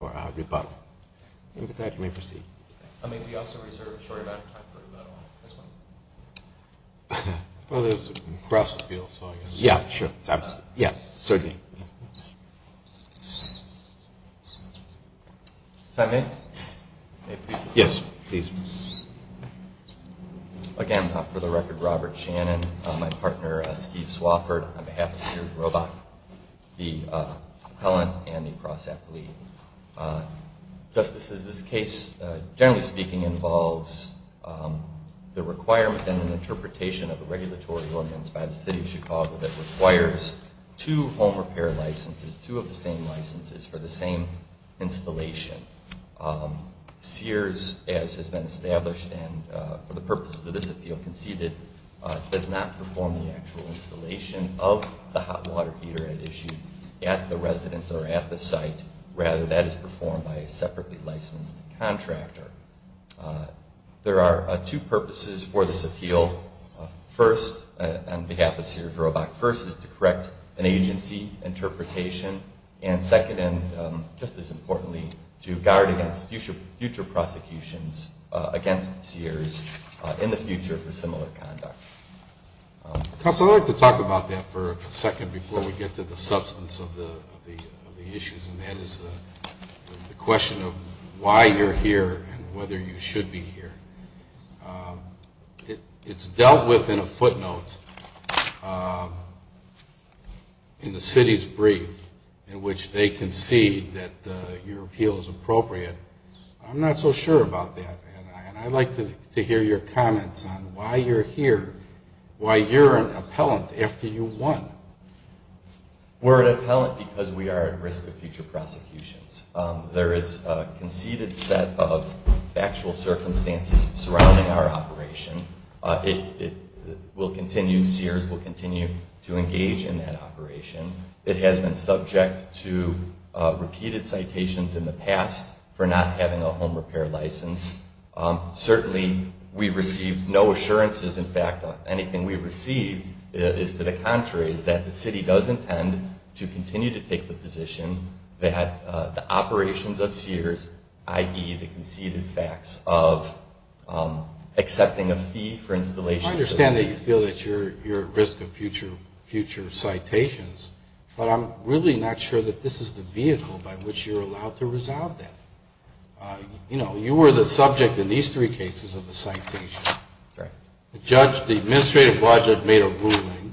for our rebuttal. And with that, you may proceed. I may be also reserved a short amount of time for rebuttal. This one. Well, there's a cross-appeal, so I guess. Yeah, sure. Yeah, certainly. If I may? Yes, please. Again, for the record, Robert Shannon, my partner, Steve Swofford, on behalf of Sears Thank you. Thank you. Thank you. Thank you. Thank you. Thank you. Thank you. Thank you. Thank you. Thank you. Thank you. And I think what I should speed up is my last remark is it's been tallied the last So a couple of forms of legislation, just this is the case, generally speaking, involves the requirement and then interpretation of the regulatory ordinance by the City of Chicago that requires two home repair licenses, two of the same licenses for the same installation. Sears, as has been established and for the purposes of this appeal conceded, does not perform the actual installation of the hot water heater at issue at the residence or at the site, rather that is performed by a separately licensed contractor. There are two purposes for this appeal. First, on behalf of Sears Roebuck, first is to correct an agency interpretation and second, and just as importantly, to guard against future prosecutions against Sears in the future for similar conduct. Counsel, I'd like to talk about that for a second before we get to the substance of the issues, and that is the question of why you're here and whether you should be here. It's dealt with in a footnote in the City's brief in which they concede that your appeal is appropriate. I'm not so sure about that, and I'd like to hear your comments on why you're here, why you're an appellant after you won. We're an appellant because we are at risk of future prosecutions. There is a conceded set of factual circumstances surrounding our operation. It will continue, Sears will continue to engage in that operation. It has been subject to repeated citations in the past for not having a home repair license. Certainly, we received no assurances, in fact, anything we received is to the contrary, is that the City does intend to continue to take the position that the operations of Sears, i.e., the conceded facts of accepting a fee for installation. I understand that you feel that you're at risk of future citations, but I'm really not sure that this is the vehicle by which you're allowed to resolve that. You know, you were the subject in these three cases of the citation. The judge, the administrative judge has made a ruling,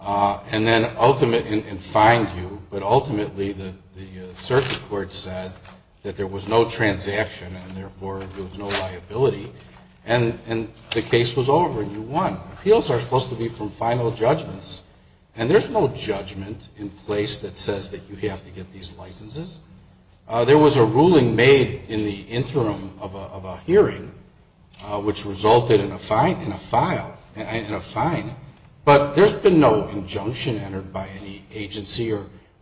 and then ultimately, and fined you, but ultimately, the circuit court said that there was no transaction, and therefore, there was no liability, and the case was over, and you won. Appeals are supposed to be from final judgments, and there's no judgment in place that says that you have to get these licenses. There was a ruling made in the interim of a hearing, which resulted in a fine, but there's been no injunction entered by any agency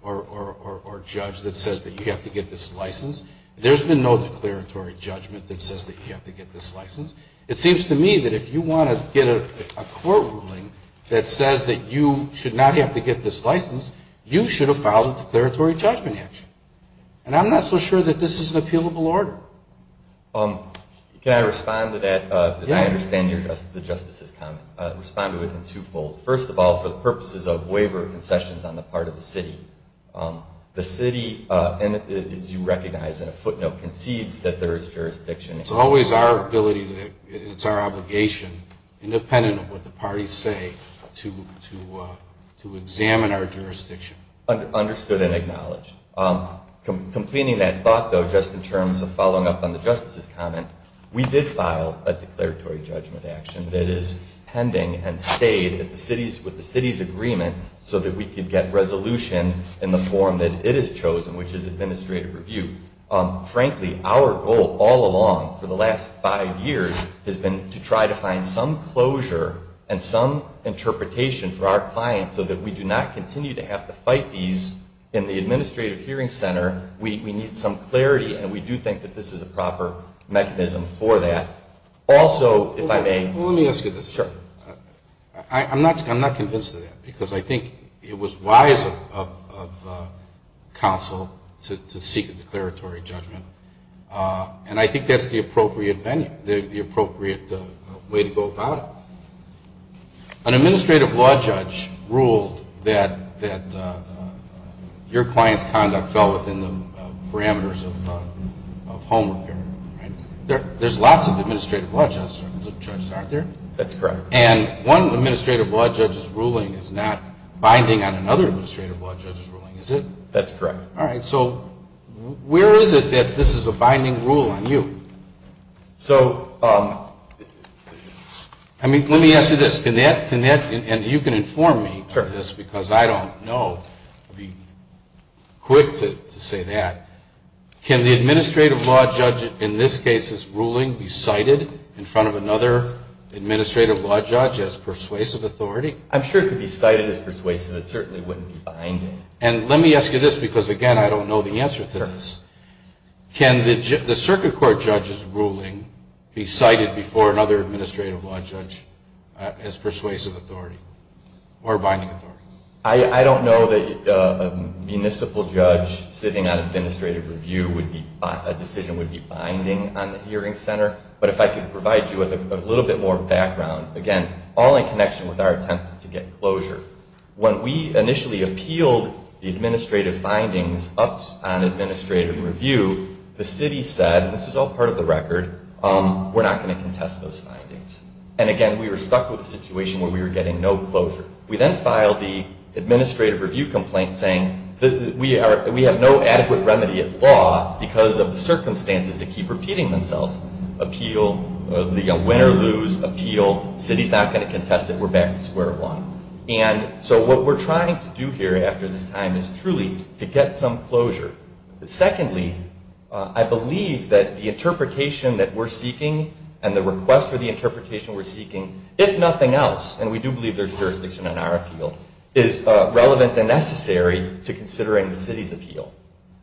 or judge that says that you have to get this license. There's been no declaratory judgment that says that you have to get this license. It seems to me that if you want to get a court ruling that says that you should not have to get this license, you should have filed a declaratory judgment action, and I'm not so sure that this is an appealable order. Can I respond to that? I understand the Justice's comment. I'll respond to it in two-fold. First of all, for the purposes of waiver concessions on the part of the city, the city, as you recognize in a footnote, concedes that there is jurisdiction. It's always our ability, it's our obligation, independent of what the parties say, to examine our jurisdiction. Understood and acknowledged. Completing that thought, though, just in terms of following up on the Justice's comment, we did file a declaratory judgment action that is pending and stayed with the city's agreement so that we could get resolution in the form that it has chosen, which is administrative review. Frankly, our goal all along for the last five years has been to try to find some closure and some interpretation for our jurisdiction, and we do not continue to have to fight these in the Administrative Hearing Center. We need some clarity, and we do think that this is a proper mechanism for that. Also, if I may. Let me ask you this. I'm not convinced of that, because I think it was wise of counsel to seek a declaratory judgment, and I think that's the reason that your client's conduct fell within the parameters of home repair. There's lots of administrative law judges, aren't there? That's correct. And one administrative law judge's ruling is not binding on another administrative law judge's ruling, is it? That's correct. All right. So where is it that this is a binding rule on you? So, I mean, let me ask you this. Can that, and you can inform me of this, because I don't know. I'll be quick to say that. Can the administrative law judge in this case's ruling be cited in front of another administrative law judge as persuasive authority? I'm sure it could be cited as persuasive. It certainly wouldn't be binding. And let me ask you this, because, again, I don't know the answer to this. Sure. Can the circuit court judge's ruling be cited before another administrative law judge as persuasive authority or binding authority? I don't know that a municipal judge sitting on administrative review would be, a decision would be binding on the hearing center, but if I could provide you with a little bit more background, again, all in connection with our attempt to get closure. When we initially appealed the administrative findings up on administrative review, the city said, and this is all part of the record, we're not going to contest those findings. And, again, we were stuck with a situation where we were getting no closure. We then filed the administrative review complaint saying we have no adequate remedy at law because of the circumstances that keep repeating themselves. Appeal, win or lose, appeal, city's not going to contest it, we're And so what we're trying to do here after this time is truly to get some closure. Secondly, I believe that the interpretation that we're seeking and the request for the interpretation we're seeking, if nothing else, and we do believe there's jurisdiction on our appeal, is relevant and necessary to considering the city's appeal.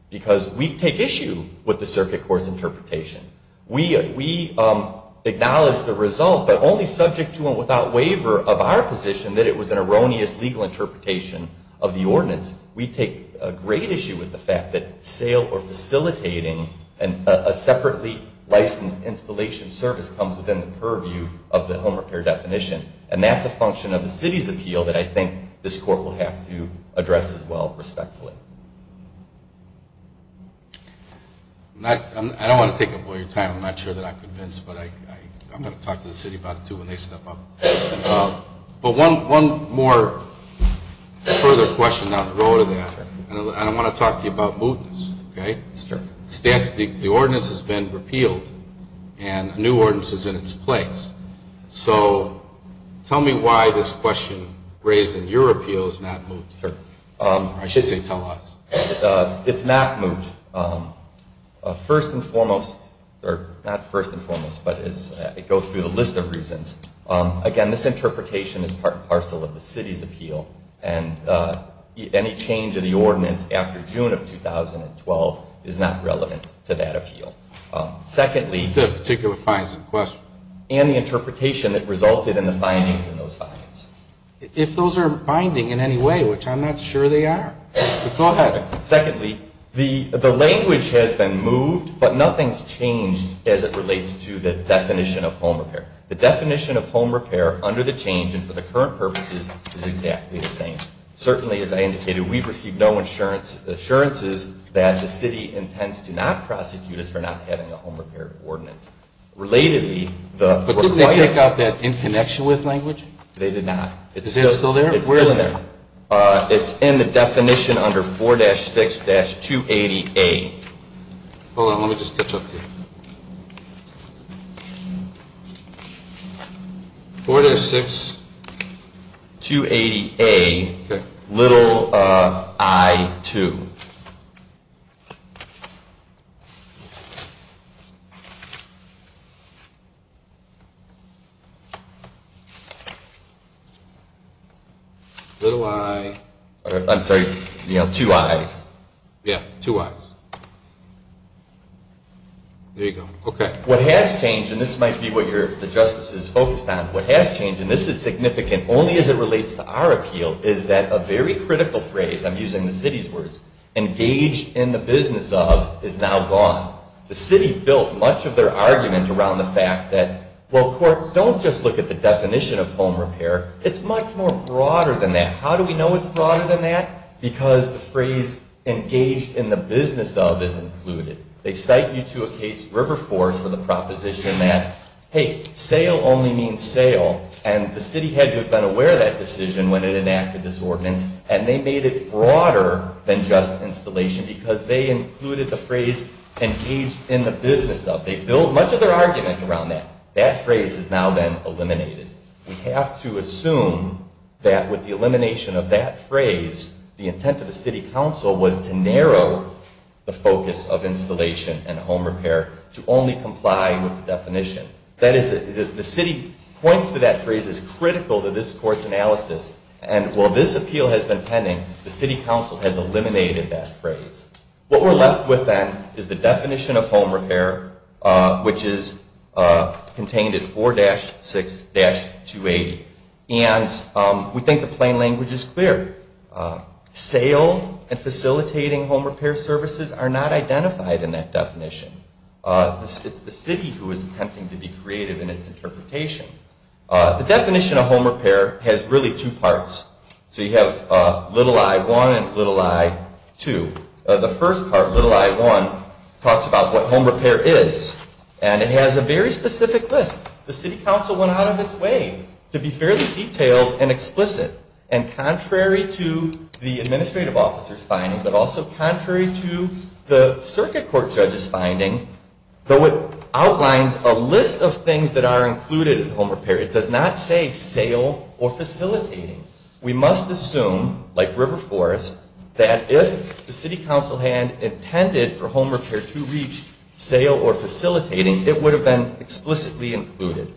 Because we take issue with the circuit court's interpretation. We acknowledge the result, but only subject to and without waiver of our position that it was an erroneous legal interpretation of the ordinance. We take great issue with the fact that sale or facilitating a separately licensed installation service comes within the purview of the home repair definition. And that's a function of the city's appeal that I think this court will have to address as well, respectfully. I don't want to take up all your time. I'm not sure that I'm convinced, but I'm going to talk to the city about it too when they step up. But one more further question on the road to that. And I want to talk to you about mootness. Okay? The ordinance has been repealed and a new ordinance is in its place. So tell me why this question raised in your appeal is not moot. I should say telehealth. It's not moot. First and foremost, or not first and foremost, but as I go through the list of reasons, again, this interpretation is part and parcel of the city's appeal. And any change of the ordinance after June of 2012 is not relevant to that appeal. Secondly. The particular fines in question. And the interpretation that resulted in the findings in those fines. If those are binding in any way, which I'm not sure they are. Go ahead. Secondly, the language has been moved, but nothing's changed as it relates to the definition of home repair. The definition of home repair under the change and for the current purposes is exactly the same. Certainly, as I indicated, we've received no assurances that the city intends to not prosecute us for not having a home repair ordinance. Relatedly, the Did they take out that in connection with language? They did not. Is that still there? It's still there. It's in the definition under 4-6-280A. Hold on, let me just catch up here. 4-6-280A, little I-2. I'm sorry, two I's. Yeah, two I's. There you go. Okay. What has changed, and this might be what the justice is focused on, what has changed, and this is significant only as it relates to our appeal, is that a very critical phrase, I'm using the city's words, engaged in the business of, is now gone. The city built much of their argument around the fact that, well, of course, don't just look at the definition of home repair. It's much more broader than that. How do we know it's broader than that? Because the phrase engaged in the business of is included. They cite you to a case, River Forest, with a proposition that, hey, sale only means sale, and the city had to have been aware of that phrase, engaged in the business of. They built much of their argument around that. That phrase has now been eliminated. We have to assume that with the elimination of that phrase, the intent of the city council was to narrow the focus of installation and home repair to only comply with the definition. That is, the city points to that phrase as critical to this court's analysis, and while this appeal has been What we're left with then is the definition of home repair, which is contained in 4-6-280, and we think the plain language is clear. Sale and facilitating home repair services are not identified in that definition. It's the city who is attempting to be creative in its interpretation. The definition of home repair has really two parts. So you have little I-1 and little I-2. The first part, little I-1, talks about what home repair is, and it has a very specific list. The city council went out of its way to be fairly detailed and explicit, and contrary to the definition of home repair, it does not say sale or facilitating. We must assume, like River Forest, that if the city council had intended for home repair to reach sale or facilitating, it would have been explicitly included.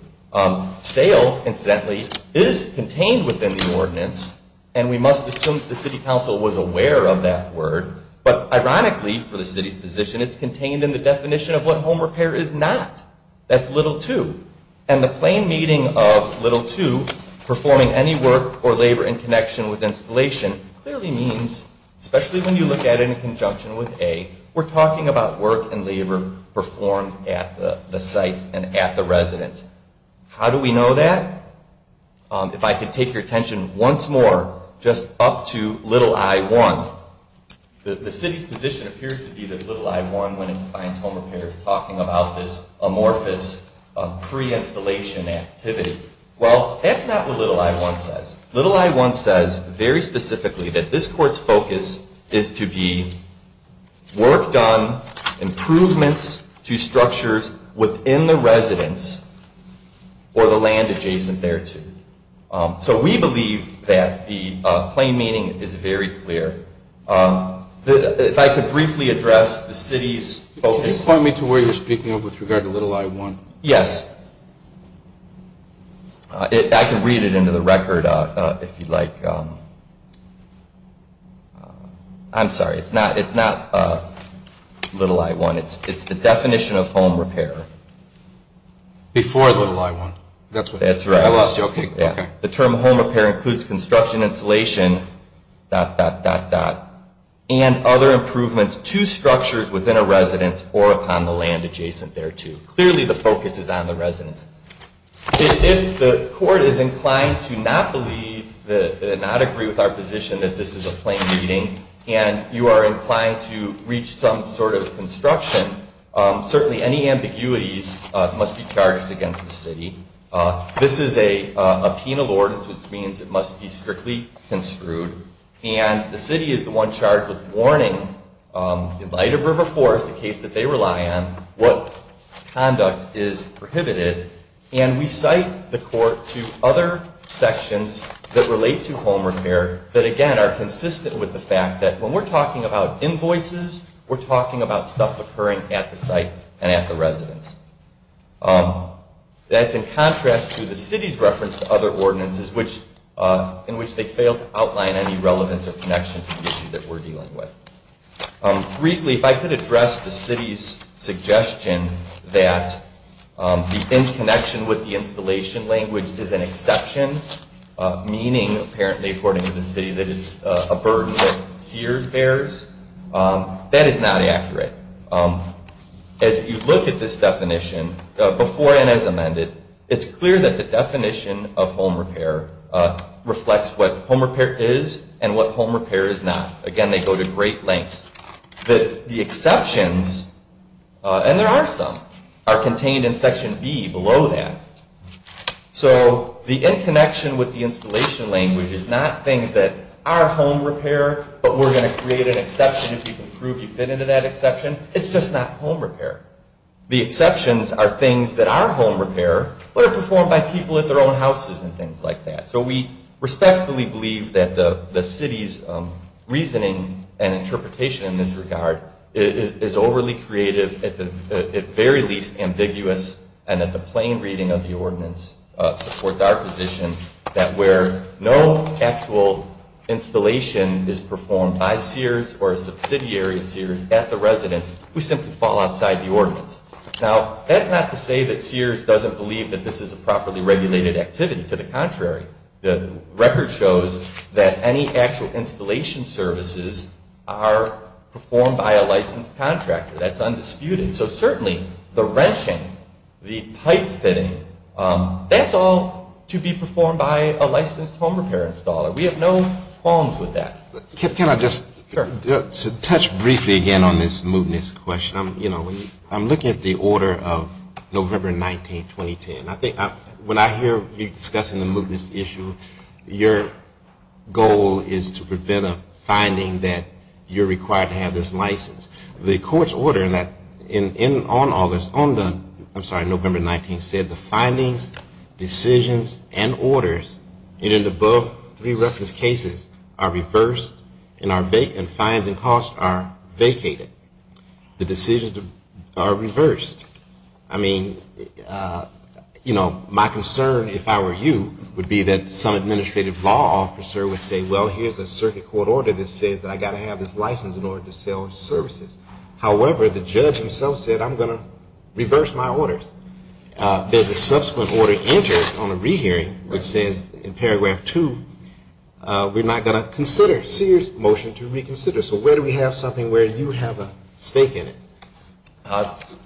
Sale, incidentally, is contained within the ordinance, and we must assume that the city council was aware of that word, but ironically, for the city's position, it's contained in the definition of what home repair is. So the reading of little 2, performing any work or labor in connection with installation, clearly means, especially when you look at it in conjunction with A, we're talking about work and labor performed at the site and at the residence. How do we know that? If I could take your The city's position appears to be that little I-1, when it defines home repair, is talking about this amorphous pre-installation activity. Well, that's not what little I-1 says. Little I-1 says, very specifically, that this court's focus is to be work done, improvements to structures within the residence or the land adjacent thereto. So we believe that the plain meaning is very clear. If I could briefly address the city's focus Can you point me to where you're speaking of with regard to little I-1? Yes. I can read it into the record if you'd like. I'm sorry. It's not little I-1. It's the definition of home repair. Before little I-1. That's right. I lost you. Okay. The term home repair includes construction, installation, dot, dot, dot, dot, and other improvements to structures within a residence or upon the land adjacent thereto. Clearly the focus is on the residence. If the court is inclined to not believe, to not agree with our position that this is a sort of construction, certainly any ambiguities must be charged against the city. This is a penal ordinance, which means it must be strictly construed. And the city is the one charged with warning in light of River Forest, a case that they rely on, what conduct is prohibited. And we cite the court to other sections that relate to home repair that, again, are consistent with the fact that when we're talking about invoices, we're talking about stuff occurring at the site and at the residence. That's in contrast to the city's reference to other ordinances in which they fail to outline any relevance or connection to the issue that we're dealing with. Briefly, if I could address the city's suggestion that the in-connection with the installation language is an exception, meaning, apparently, according to the city, that it's a burden that Sears bears, that is not accurate. As you look at this definition, before and as amended, it's clear that the definition of home repair reflects what home repair is and what home repair is not. Again, they go to great lengths. The exceptions, and there are some, are contained in Section B below that. So the in-connection with the installation language is not things that are home repair, but we're going to create an exception if you can prove you fit into that exception. It's just not home repair. The exceptions are things that are home repair, but are performed by people at their own houses and things like that. So we respectfully believe that the city's reasoning and interpretation in this regard is overly creative, at the very least ambiguous, and that the plain reading of the ordinance supports our position that where no actual installation is performed by Sears or a subsidiary of Sears at the residence, we simply fall outside the ordinance. Now, that's not to say that Sears doesn't believe that this is a properly regulated activity. To the contrary. The record shows that any actual installation services are performed by a licensed contractor. That's undisputed. So certainly the wrenching, the pipe fitting, that's all to be performed by a licensed home repair installer. We have no qualms with that. Can I just touch briefly again on this mootness question? I'm looking at the order of November 19, 2010. When I hear you discussing the mootness issue, your goal is to prevent a finding that you're required to have this license. The court's order on August, I'm sorry, November 19, said the cases are reversed and fines and costs are vacated. The decisions are reversed. I mean, you know, my concern, if I were you, would be that some administrative law officer would say, well, here's a circuit court order that says that I've got to have this license in order to sell services. However, the judge himself said, I'm going to reverse my orders. Then the subsequent order enters on the rehearing, which says in paragraph 2, we're not going to consider Sears' motion to reconsider. So where do we have something where you have a stake in it?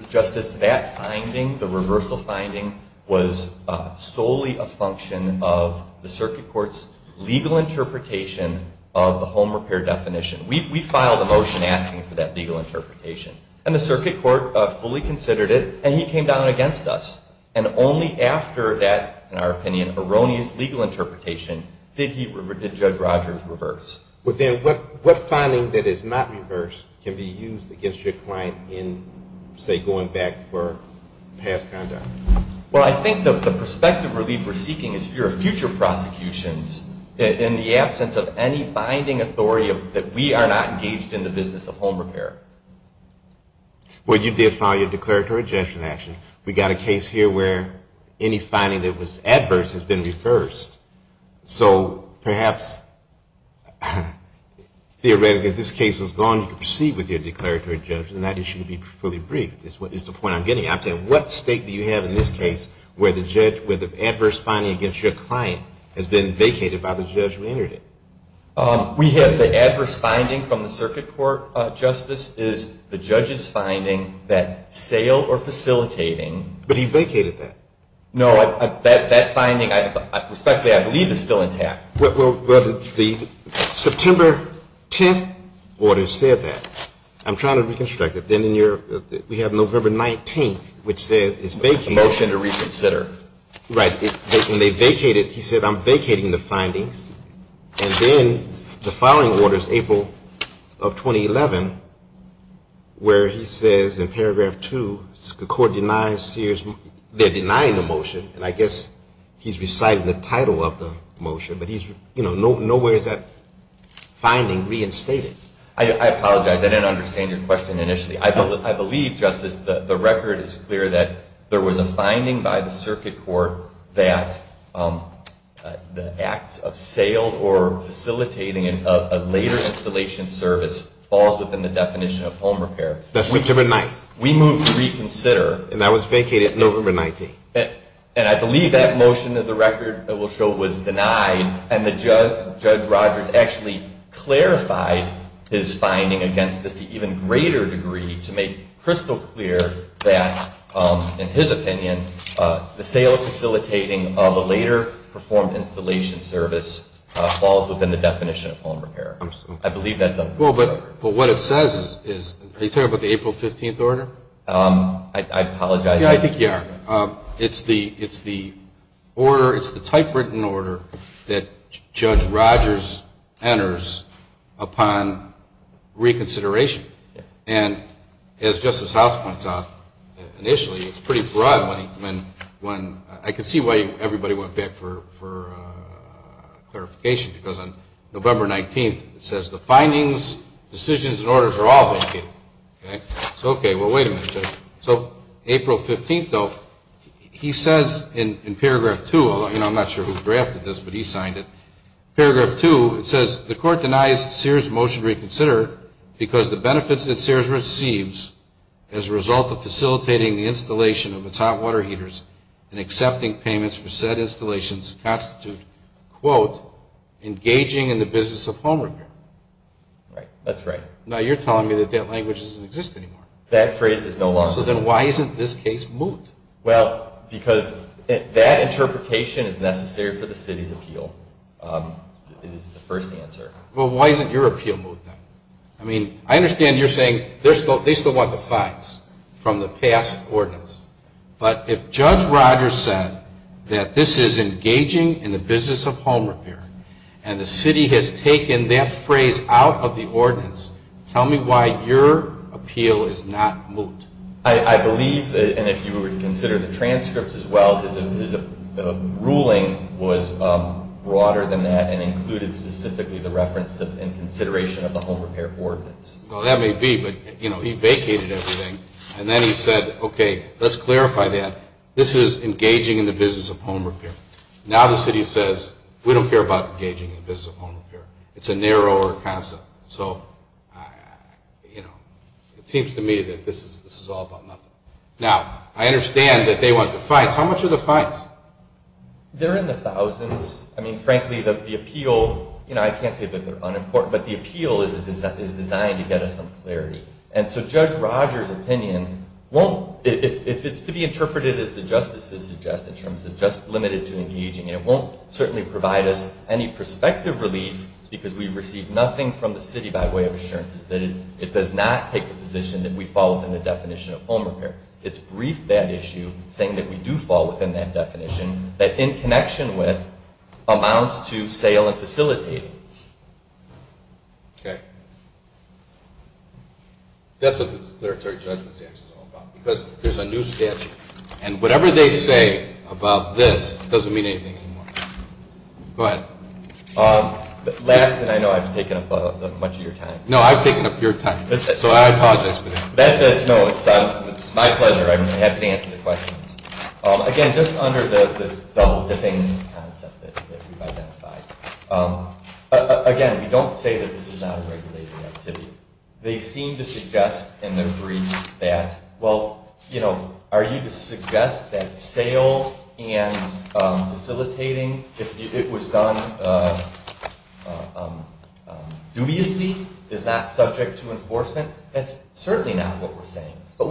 Justice, that finding, the reversal finding, was solely a function of the circuit court's legal interpretation of the home repair definition. We filed the motion asking for that legal interpretation. And the circuit court fully considered it, and he came down against us. And only after that, in our opinion, erroneous legal interpretation, did Judge Rogers reverse. But then what finding that is not reversed can be used against your client in, say, going back for past conduct? Well, I think the perspective relief we're seeking is for future prosecutions in the absence of any binding authority that we are not engaged in the business of home repair. Well, you did file your declaratory judgment action. We've got a case here where any finding that was adverse has been reversed. So perhaps theoretically, if this case was gone, you could proceed with your declaratory judgment, and that issue would be fully briefed, is the point I'm trying to make here. But what about in this case where the adverse finding against your client has been vacated by the judge who entered it? We have the adverse finding from the circuit court, Justice, is the judge's finding that sale or facilitating But he vacated that. No, that finding, respectfully, I believe is still intact. Well, the September 10th order said that. I'm trying to reconstruct it. Then in your, we have November 19th, which says it's vacated. Motion to reconsider. Right. And they vacated, he said, I'm vacating the findings. And then the following order is April of 2011, where he says in paragraph two, the court denies Sears, they're denying the motion, and I guess he's reciting the title of the motion, but he's reciting the title of the motion, which, you know, nowhere is that finding reinstated. I apologize. I didn't understand your question initially. I believe, Justice, the record is clear that there was a finding by the circuit court that the acts of sale or facilitating a later installation service falls within the definition of home repair. That's September 9th. We move to reconsider. And that was vacated November 19th. And I believe that motion of the record that we'll show was denied, and Judge Rogers actually clarified his finding against this to even greater degree to make crystal clear that, in his opinion, the sales facilitating of a later performed installation service falls within the definition of home repair. I believe that's on the record. Well, but what it says is, are you talking about the April 15th order? I apologize. Yeah, I think you are. It's the order, it's the typewritten order that Judge Rogers enters upon reconsideration. And as Justice House points out, initially, it's pretty broad. I can see why everybody went back for clarification, because on November 19th, it says the findings, decisions, and orders are all It's okay. Well, wait a minute, Judge. So April 15th, though, he says in paragraph 2, and I'm not sure who drafted this, but he signed it. Paragraph 2, it says, the court denies Sears' motion to reconsider because the benefits that Sears receives as a result of facilitating the installation of its hot water heaters and accepting payments for said installations constitute, quote, engaging in the business of home repair. That's right. Now you're telling me that that language doesn't exist anymore. That phrase is no longer there. So then why isn't this case moot? Well, because that interpretation is necessary for the city's appeal, is the first answer. Well, why isn't your appeal moot, then? I mean, I understand you're saying they still want the facts from the past ordinance. But if Judge Rogers said that this is engaging in the business of home repair, and the city has taken that phrase out of the case, tell me why your appeal is not moot. I believe that, and if you would consider the transcripts as well, his ruling was broader than that and included specifically the reference and consideration of the home repair ordinance. Well, that may be, but, you know, he vacated everything, and then he said, okay, let's clarify that. This is engaging in the business of home repair. Now the city says, we don't care about engaging in the business of home repair. It's a narrower concept. So, you know, it seems to me that this is all about nothing. Now, I understand that they want the facts. How much are the facts? They're in the thousands. I mean, frankly, the appeal, you know, I can't say that they're unimportant, but the appeal is designed to get us some clarity. And so Judge Rogers' opinion won't, if it's to be interpreted as the justices suggest in terms of just limited to engaging, it won't certainly provide us any perspective relief because we've received nothing from the city by way of assurances that it does not take the position that we fall within the definition of home repair. It's briefed that issue, saying that we do fall within that definition, that in connection with amounts to sale and facilitating. Okay. That's what the declaratory judgment statute is all about, because there's a new statute. And whatever they say about this doesn't mean anything anymore. Go ahead. Last, and I know I've taken up much of your time. No, I've taken up your time. So I apologize for this. No, it's my pleasure. I'm happy to answer the questions. Again, just under this double-dipping concept that we've identified, again, we don't say that this is not a regulated activity. They seem to suggest in their briefs that, well, are you to suggest that sale and facilitating, if it was done dubiously, is not subject to enforcement? That's certainly not what we're saying. But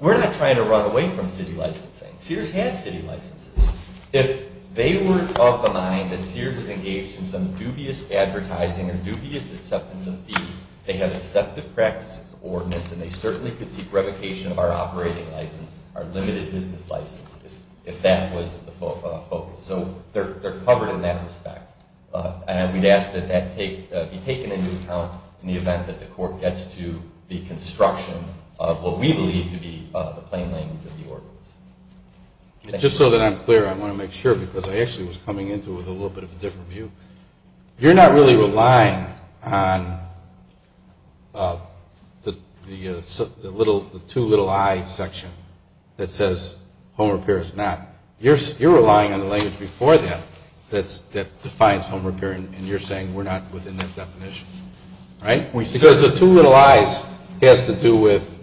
we're not trying to run away from city licensing. Sears has city licenses. If they were of the mind that Sears is engaged in some dubious advertising or dubious acceptance of fee, they have accepted practice of the ordinance, and they certainly could seek revocation of our operating license, our limited business license, if that was the focus. So they're covered in that respect. And we'd ask that that be taken into account in the event that the court gets to the construction of what we believe to be the plain language of the ordinance. Just so that I'm clear, I want to make sure, because I actually was coming into it with a little bit of a different view. You're not really relying on the two little I section that says home repair is not. You're relying on the language before that that defines home repair, and you're saying we're not within that definition, right? Because the two little I's has to do with,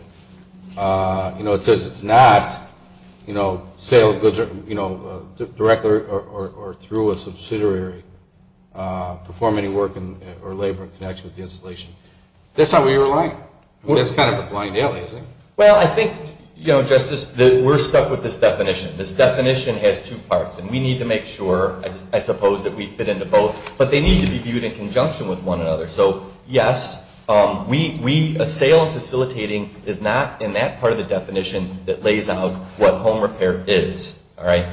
you know, it says it's not, you know, sale of goods, you know, direct or through a subsidiary, perform any work or labor in connection with the installation. That's not where you're relying. That's kind of a blind alias, isn't it? Well, I think, you know, Justice, we're stuck with this definition. This definition has two parts, and we need to make sure, I suppose, that we fit into both. But they need to be viewed in conjunction with one another. So, yes, a sale of facilitating is not in that part of the definition that lays out what home repair is, all right?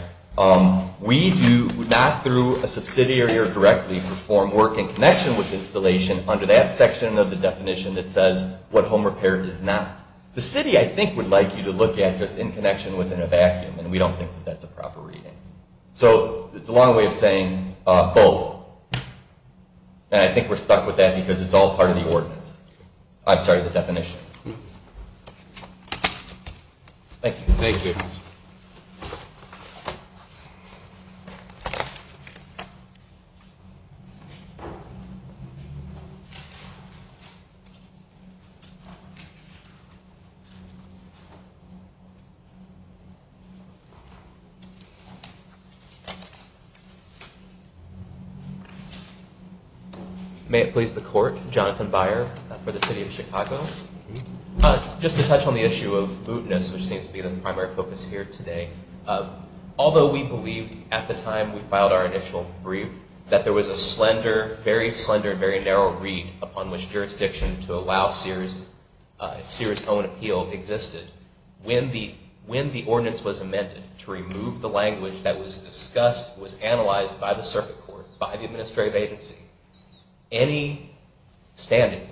We do not through a subsidiary or directly perform work in connection with installation under that section of the definition that says what home repair is not. The city, I think, would like you to look at just in connection within a vacuum, and we don't think that's a proper reading. So it's a long way of saying both. And I think we're stuck with that because it's all part of the ordinance. I'm sorry, the definition. Thank you. Thank you. May it please the court. Jonathan Byer for the city of Chicago. Just to touch on the issue of mootness, which seems to be the primary focus here today. Although we believe, at the time we filed our initial brief, that there was a slender, very slender, very narrow read upon which jurisdiction to allow Sears' own appeal existed, when the ordinance was amended to remove the language that was discussed, was analyzed by the circuit court, by the administrative agency, any standing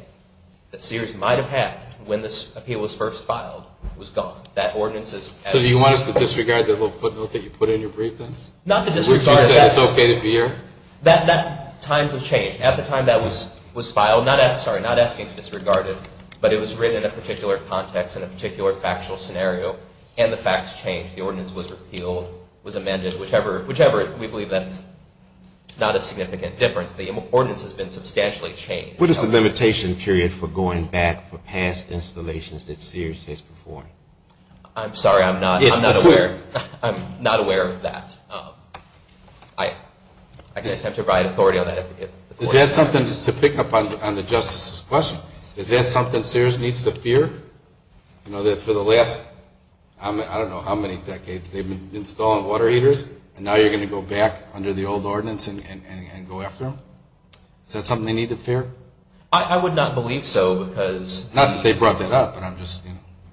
that Sears might have had when this appeal was first filed was gone. That ordinance is. So do you want us to disregard that little footnote that you put in your brief then? Not to disregard it. Which you said it's okay to be here. Times have changed. At the time that was filed, not asking to disregard it, but it was written in a particular context, in a particular factual scenario, and the facts changed. The ordinance was repealed, was amended, whichever. We believe that's not a significant difference. The ordinance has been substantially changed. What is the limitation period for going back for past installations that Sears has performed? I'm sorry. I'm not aware. I'm not aware of that. I guess I have to provide authority on that. Is that something to pick up on the justice's question? Is that something Sears needs to fear? You know, for the last, I don't know how many decades, they've been installing water heaters, and now you're going to go back under the old ordinance and go after them? Is that something they need to fear? I would not believe so. Not that they brought that up, but I'm just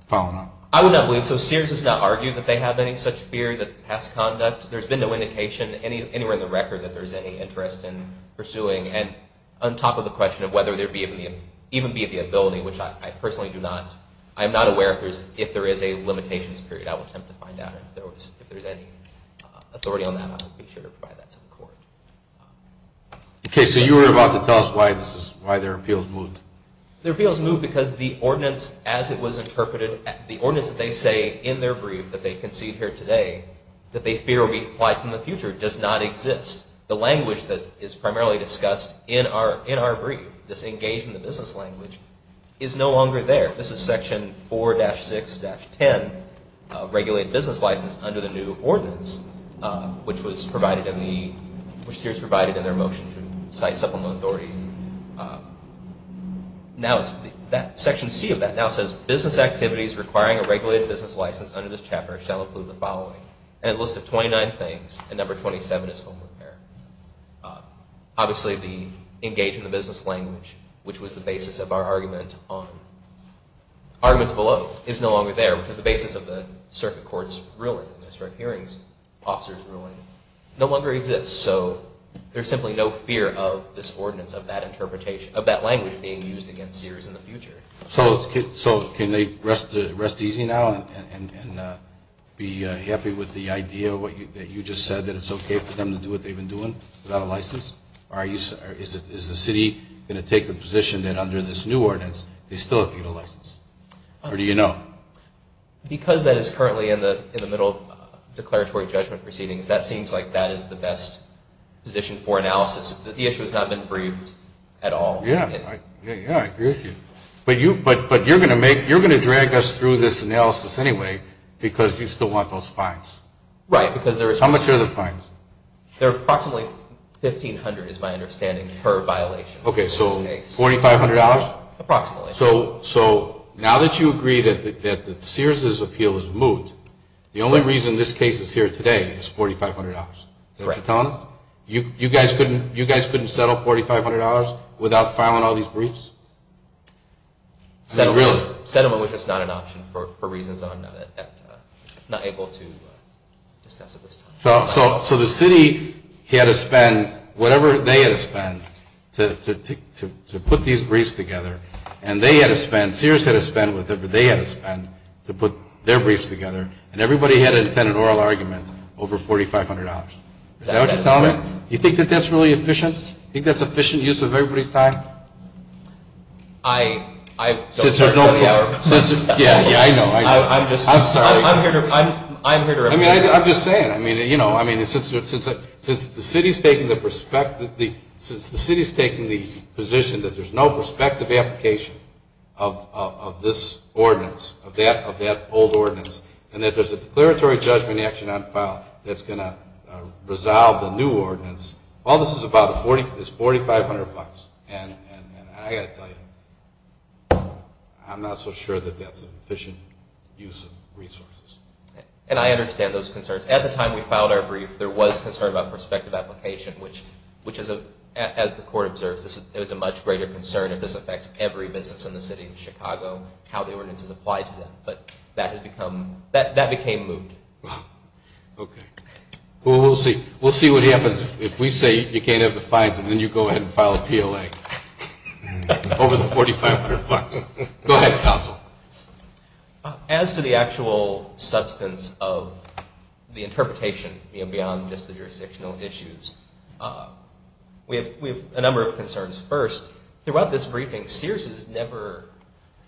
following up. I would not believe so. Sears has not argued that they have any such fear that past conduct. There's been no indication anywhere in the record that there's any interest in pursuing. And on top of the question of whether there would even be the ability, which I personally do not, I am not aware if there is a limitations period. I will attempt to find out. If there's any authority on that, I will be sure to provide that to the court. Okay. So you were about to tell us why their appeals moved. Their appeals moved because the ordinance as it was interpreted, the ordinance that they say in their brief that they concede here today that they fear will be applied in the future does not exist. The language that is primarily discussed in our brief, this engage in the business language, is no longer there. This is section 4-6-10, regulated business license under the new ordinance, which Sears provided in their motion to cite supplemental authority. Section C of that now says business activities requiring a regulated business license under this chapter shall include the following, and a list of 29 things, and number 27 is home repair. Obviously the engage in the business language, which was the basis of our argument on arguments below, is no longer there, which is the basis of the circuit court's ruling, district hearings officer's ruling, no longer exists. So there's simply no fear of this ordinance, of that language being used against Sears in the future. So can they rest easy now and be happy with the idea that you just said, that it's okay for them to do what they've been doing without a license? Or is the city going to take the position that under this new ordinance they still have to get a license? Or do you know? Because that is currently in the middle of declaratory judgment proceedings, that seems like that is the best position for analysis. The issue has not been briefed at all. Yeah, I agree with you. But you're going to drag us through this analysis anyway because you still want those fines. Right. How much are the fines? They're approximately $1,500 is my understanding per violation. Okay, so $4,500? Approximately. So now that you agree that Sears' appeal is moot, the only reason this case is here today is $4,500. Is that what you're telling us? You guys couldn't settle $4,500 without filing all these briefs? Settlement was just not an option for reasons that I'm not able to discuss at this time. So the city had to spend whatever they had to spend to put these briefs together, and they had to spend, Sears had to spend whatever they had to spend to put their briefs together, and everybody had to defend an oral argument over $4,500. Is that what you're telling me? You think that that's really efficient? You think that's efficient use of everybody's time? I don't have any other comments. Yeah, yeah, I know. I'm just sorry. I'm here to repeat. I'm just saying. I mean, you know, since the city is taking the position that there's no prospective application of this ordinance, of that old ordinance, and that there's a declaratory judgment action on file that's going to resolve the new ordinance, all this is about is $4,500. And I've got to tell you, I'm not so sure that that's an efficient use of resources. And I understand those concerns. At the time we filed our brief, there was concern about prospective application, which is, as the court observes, is a much greater concern if this affects every business in the city of Chicago, how the ordinance is applied to them. But that became moot. Okay. Well, we'll see. We'll see what happens. If we say you can't have the fines, then you go ahead and file a PLA over the $4,500. Go ahead, counsel. As to the actual substance of the interpretation, you know, beyond just the jurisdictional issues, we have a number of concerns. First, throughout this briefing, Sears has never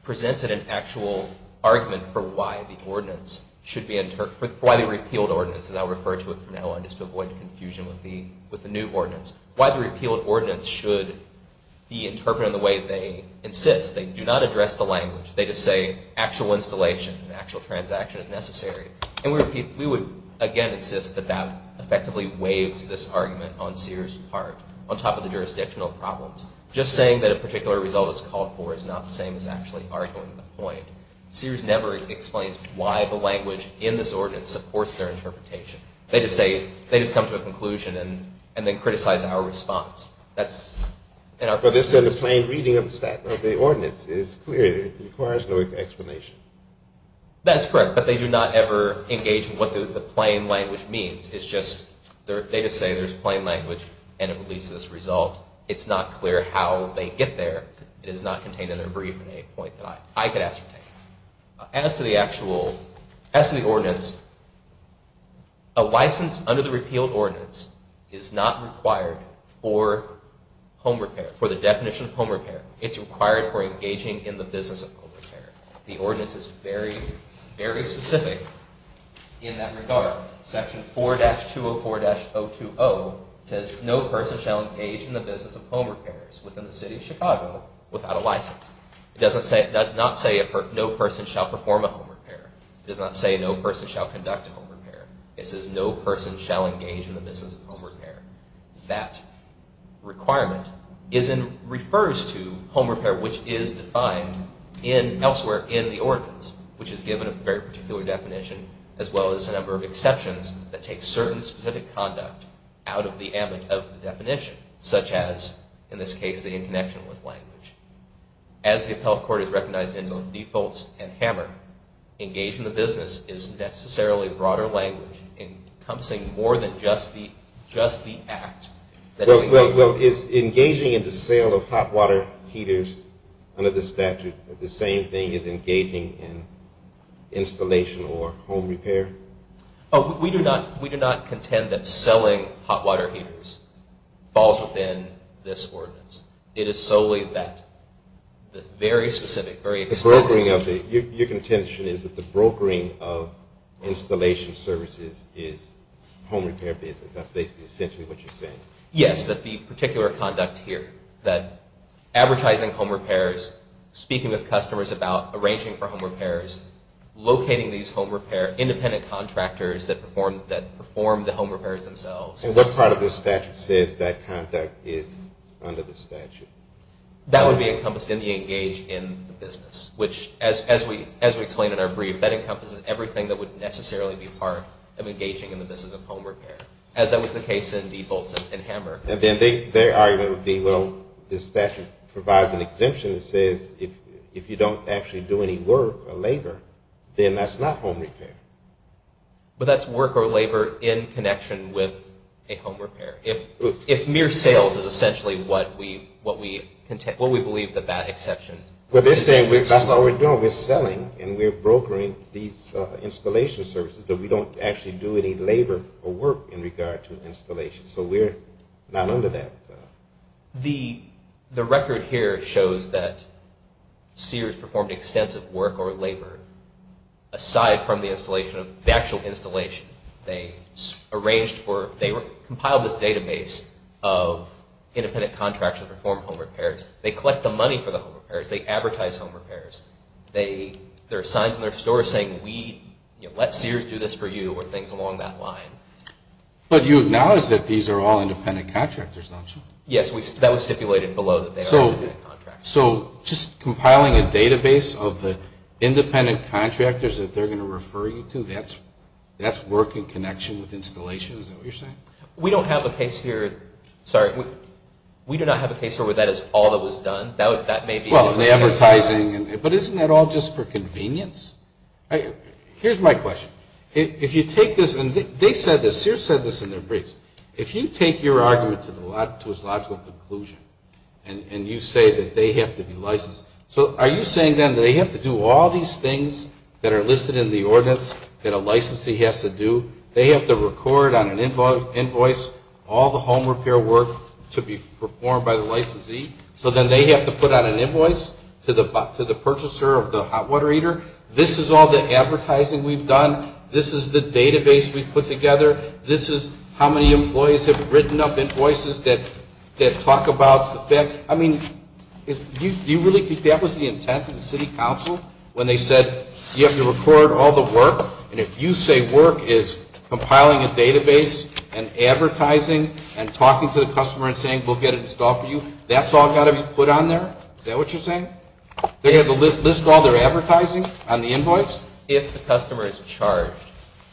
presented an actual argument for why the repealed ordinance, as I'll refer to it for now just to avoid confusion with the new ordinance, why the repealed ordinance should be interpreted in the way they insist. They do not address the language. They just say actual installation, actual transaction is necessary. And we would, again, insist that that effectively waives this argument on Sears' part, on top of the jurisdictional problems. Just saying that a particular result is called for is not the same as actually arguing the point. Sears never explains why the language in this ordinance supports their interpretation. They just say, they just come to a conclusion and then criticize our response. That's in our perspective. But this is a plain reading of the statute of the ordinance. It's clear. It requires no explanation. That's correct. But they do not ever engage in what the plain language means. It's just, they just say there's plain language and it releases this result. It's not clear how they get there. It is not contained in their briefing at any point that I could ascertain. As to the actual, as to the ordinance, a license under the repealed ordinance is not required for home repair, for the definition of home repair. It's required for engaging in the business of home repair. The ordinance is very, very specific in that regard. Section 4-204-020 says no person shall engage in the business of home repairs within the city of Chicago without a license. It does not say no person shall perform a home repair. It does not say no person shall conduct a home repair. It says no person shall engage in the business of home repair. That requirement refers to home repair, which is defined elsewhere in the ordinance, which is given a very particular definition, as well as a number of exceptions that take certain specific conduct out of the definition, such as, in this case, the interconnection with language. As the appellate court has recognized in both defaults and hammer, engage in the business is necessarily broader language encompassing more than just the act that is included. Well, is engaging in the sale of hot water heaters under the statute the same thing as engaging in installation or home repair? Oh, we do not contend that selling hot water heaters falls within this ordinance. It is solely that very specific, very extensive. Your contention is that the brokering of installation services is home repair business. That's basically essentially what you're saying. Yes, that the particular conduct here, that advertising home repairs, speaking with customers about arranging for home repairs, locating these home repair independent contractors that perform the home repairs themselves. And what part of the statute says that conduct is under the statute? That would be encompassed in the engage in the business, which, as we explained in our brief, that encompasses everything that would necessarily be part of engaging in the business of home repair, as that was the case in defaults and hammer. And then their argument would be, well, this statute provides an exemption that says if you don't actually do any work or labor, then that's not home repair. But that's work or labor in connection with a home repair. If mere sales is essentially what we believe that that exception is. Well, they're saying that's all we're doing. We're selling and we're brokering these installation services, but we don't actually do any labor or work in regard to installation. So we're not under that. The record here shows that Sears performed extensive work or labor aside from the installation, the actual installation. They compiled this database of independent contractors that perform home repairs. They collect the money for the home repairs. They advertise home repairs. There are signs in their stores saying, let Sears do this for you, or things along that line. But you acknowledge that these are all independent contractors, don't you? Yes. That was stipulated below that they are independent contractors. So just compiling a database of the independent contractors that they're going to refer you to, that's work in connection with installation? Is that what you're saying? We don't have a case here. Sorry. We do not have a case where that is all that was done. Well, the advertising. But isn't that all just for convenience? Here's my question. If you take this, and they said this, Sears said this in their briefs, if you take your argument to its logical conclusion and you say that they have to be licensed, so are you saying then they have to do all these things that are listed in the ordinance that a licensee has to do? They have to record on an invoice all the home repair work to be performed by the licensee, so then they have to put on an invoice to the purchaser of the hot water heater? This is all the advertising we've done? This is the database we've put together? This is how many employees have written up invoices that talk about the fact? I mean, do you really think that was the intent of the city council when they said you have to record all the work? And if you say work is compiling a database and advertising and talking to the customer and saying we'll get it installed for you, that's all got to be put on there? Is that what you're saying? They have to list all their advertising on the invoice? If the customer is charged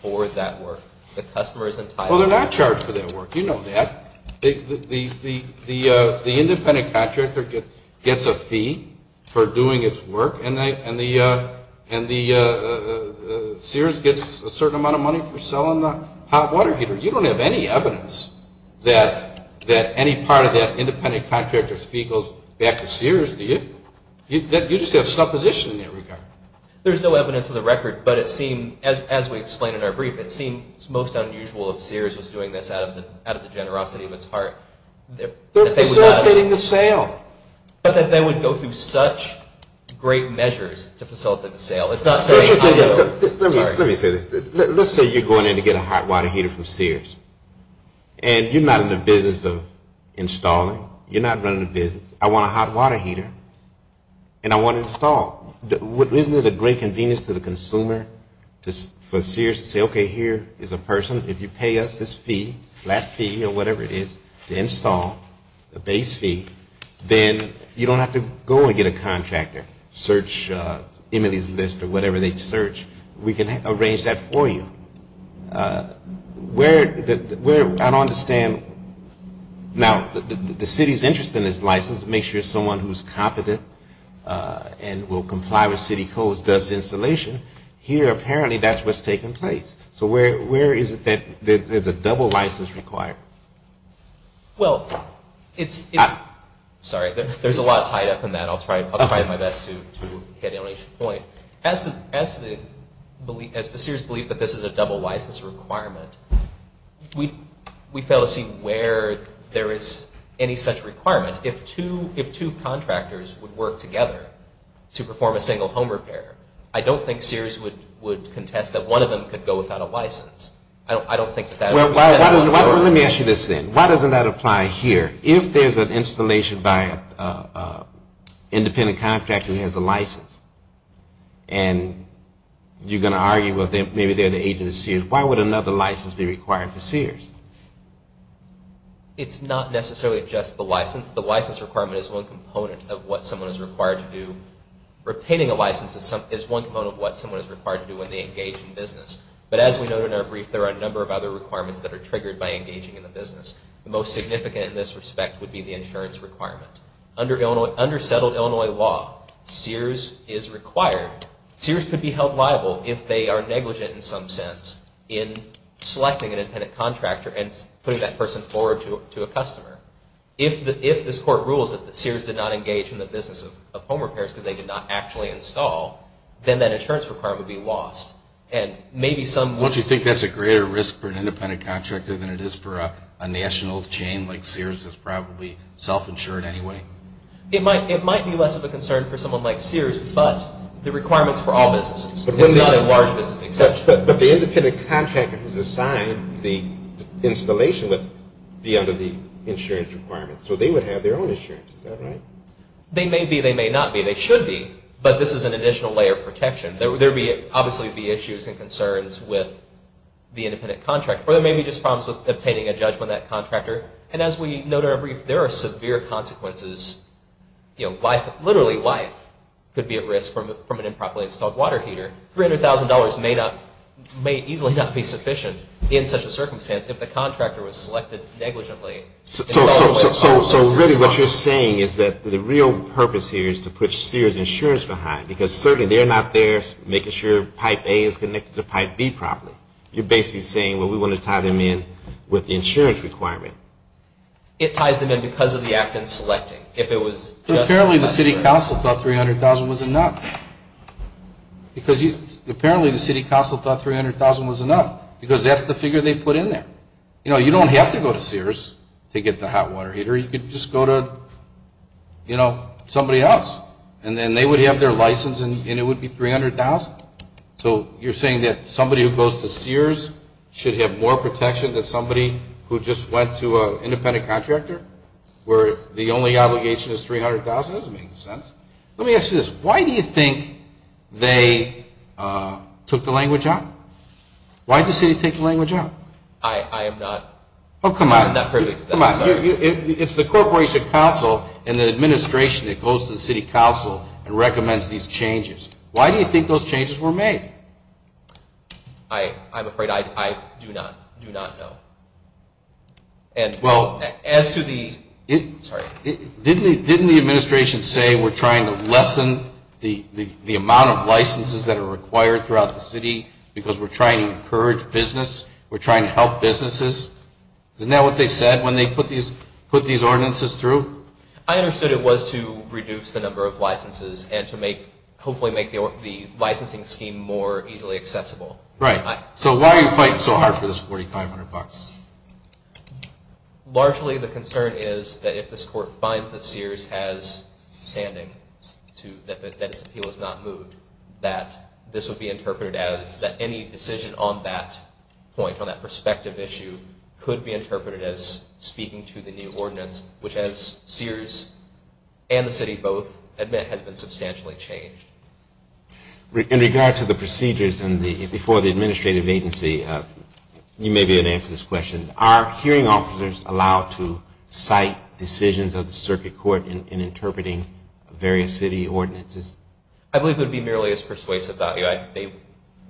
for that work. Well, they're not charged for that work. You know that. The independent contractor gets a fee for doing its work, and Sears gets a certain amount of money for selling the hot water heater. You don't have any evidence that any part of that independent contractor's fee goes back to Sears, do you? You just have supposition in that regard. There's no evidence of the record, but it seems, as we explained in our brief, it seems most unusual if Sears was doing this out of the generosity of its part. They're facilitating the sale. But that they would go through such great measures to facilitate the sale. Let me say this. Let's say you're going in to get a hot water heater from Sears. And you're not in the business of installing. You're not running a business. I want a hot water heater, and I want it installed. Isn't it a great convenience to the consumer for Sears to say, okay, here is a person. If you pay us this fee, flat fee or whatever it is, to install, a base fee, then you don't have to go and get a contractor. Search Emily's List or whatever they search. We can arrange that for you. Where I don't understand. Now, the city is interested in this license to make sure someone who is competent and will comply with city codes does the installation. Here, apparently, that's what's taking place. So where is it that there's a double license required? Well, it's – sorry, there's a lot tied up in that. I'll try my best to hit Emily's point. As to Sears' belief that this is a double license requirement, we fail to see where there is any such requirement. If two contractors would work together to perform a single home repair, I don't think Sears would contest that one of them could go without a license. Well, let me ask you this then. Why doesn't that apply here? If there's an installation by an independent contractor who has a license and you're going to argue, well, maybe they're the agent of Sears, why would another license be required for Sears? It's not necessarily just the license. The license requirement is one component of what someone is required to do. Retaining a license is one component of what someone is required to do when they engage in business. But as we noted in our brief, there are a number of other requirements that are triggered by engaging in the business. The most significant in this respect would be the insurance requirement. Under settled Illinois law, Sears is required – Sears could be held liable if they are negligent in some sense in selecting an independent contractor and putting that person forward to a customer. If this court rules that Sears did not engage in the business of home repairs because they did not actually install, then that insurance requirement would be lost. Don't you think that's a greater risk for an independent contractor than it is for a national chain like Sears that's probably self-insured anyway? It might be less of a concern for someone like Sears, but the requirement's for all businesses. It's not a large business exception. But the independent contractor who's assigned the installation would be under the insurance requirement, so they would have their own insurance. Is that right? They may be, they may not be. They should be, but this is an additional layer of protection. There would obviously be issues and concerns with the independent contractor, or there may be just problems with obtaining a judgment of that contractor. And as we noted in a brief, there are severe consequences. Literally, life could be at risk from an improperly installed water heater. $300,000 may easily not be sufficient in such a circumstance if the contractor was selected negligently. So really what you're saying is that the real purpose here is to put Sears insurance behind, because certainly they're not there making sure Pipe A is connected to Pipe B properly. You're basically saying, well, we want to tie them in with the insurance requirement. It ties them in because of the act in selecting. Apparently the city council thought $300,000 was enough. Apparently the city council thought $300,000 was enough, because that's the figure they put in there. You know, you don't have to go to Sears to get the hot water heater. You could just go to, you know, somebody else. And then they would have their license, and it would be $300,000. So you're saying that somebody who goes to Sears should have more protection than somebody who just went to an independent contractor, where the only obligation is $300,000? That doesn't make any sense. Let me ask you this. Why do you think they took the language out? Why did the city take the language out? I am not privy to that. Come on. It's the corporation council and the administration that goes to the city council and recommends these changes. Why do you think those changes were made? I'm afraid I do not know. Well, didn't the administration say, we're trying to lessen the amount of licenses that are required throughout the city because we're trying to encourage business, we're trying to help businesses? Isn't that what they said when they put these ordinances through? I understood it was to reduce the number of licenses and to hopefully make the licensing scheme more easily accessible. Right. So why are you fighting so hard for this $4,500? Largely the concern is that if this court finds that Sears has standing, that its appeal is not moved, that this would be interpreted as any decision on that point, on that perspective issue could be interpreted as speaking to the new ordinance, which as Sears and the city both admit has been substantially changed. In regard to the procedures before the administrative agency, you may be able to answer this question. Are hearing officers allowed to cite decisions of the circuit court in interpreting various city ordinances? I believe it would be merely as persuasive value.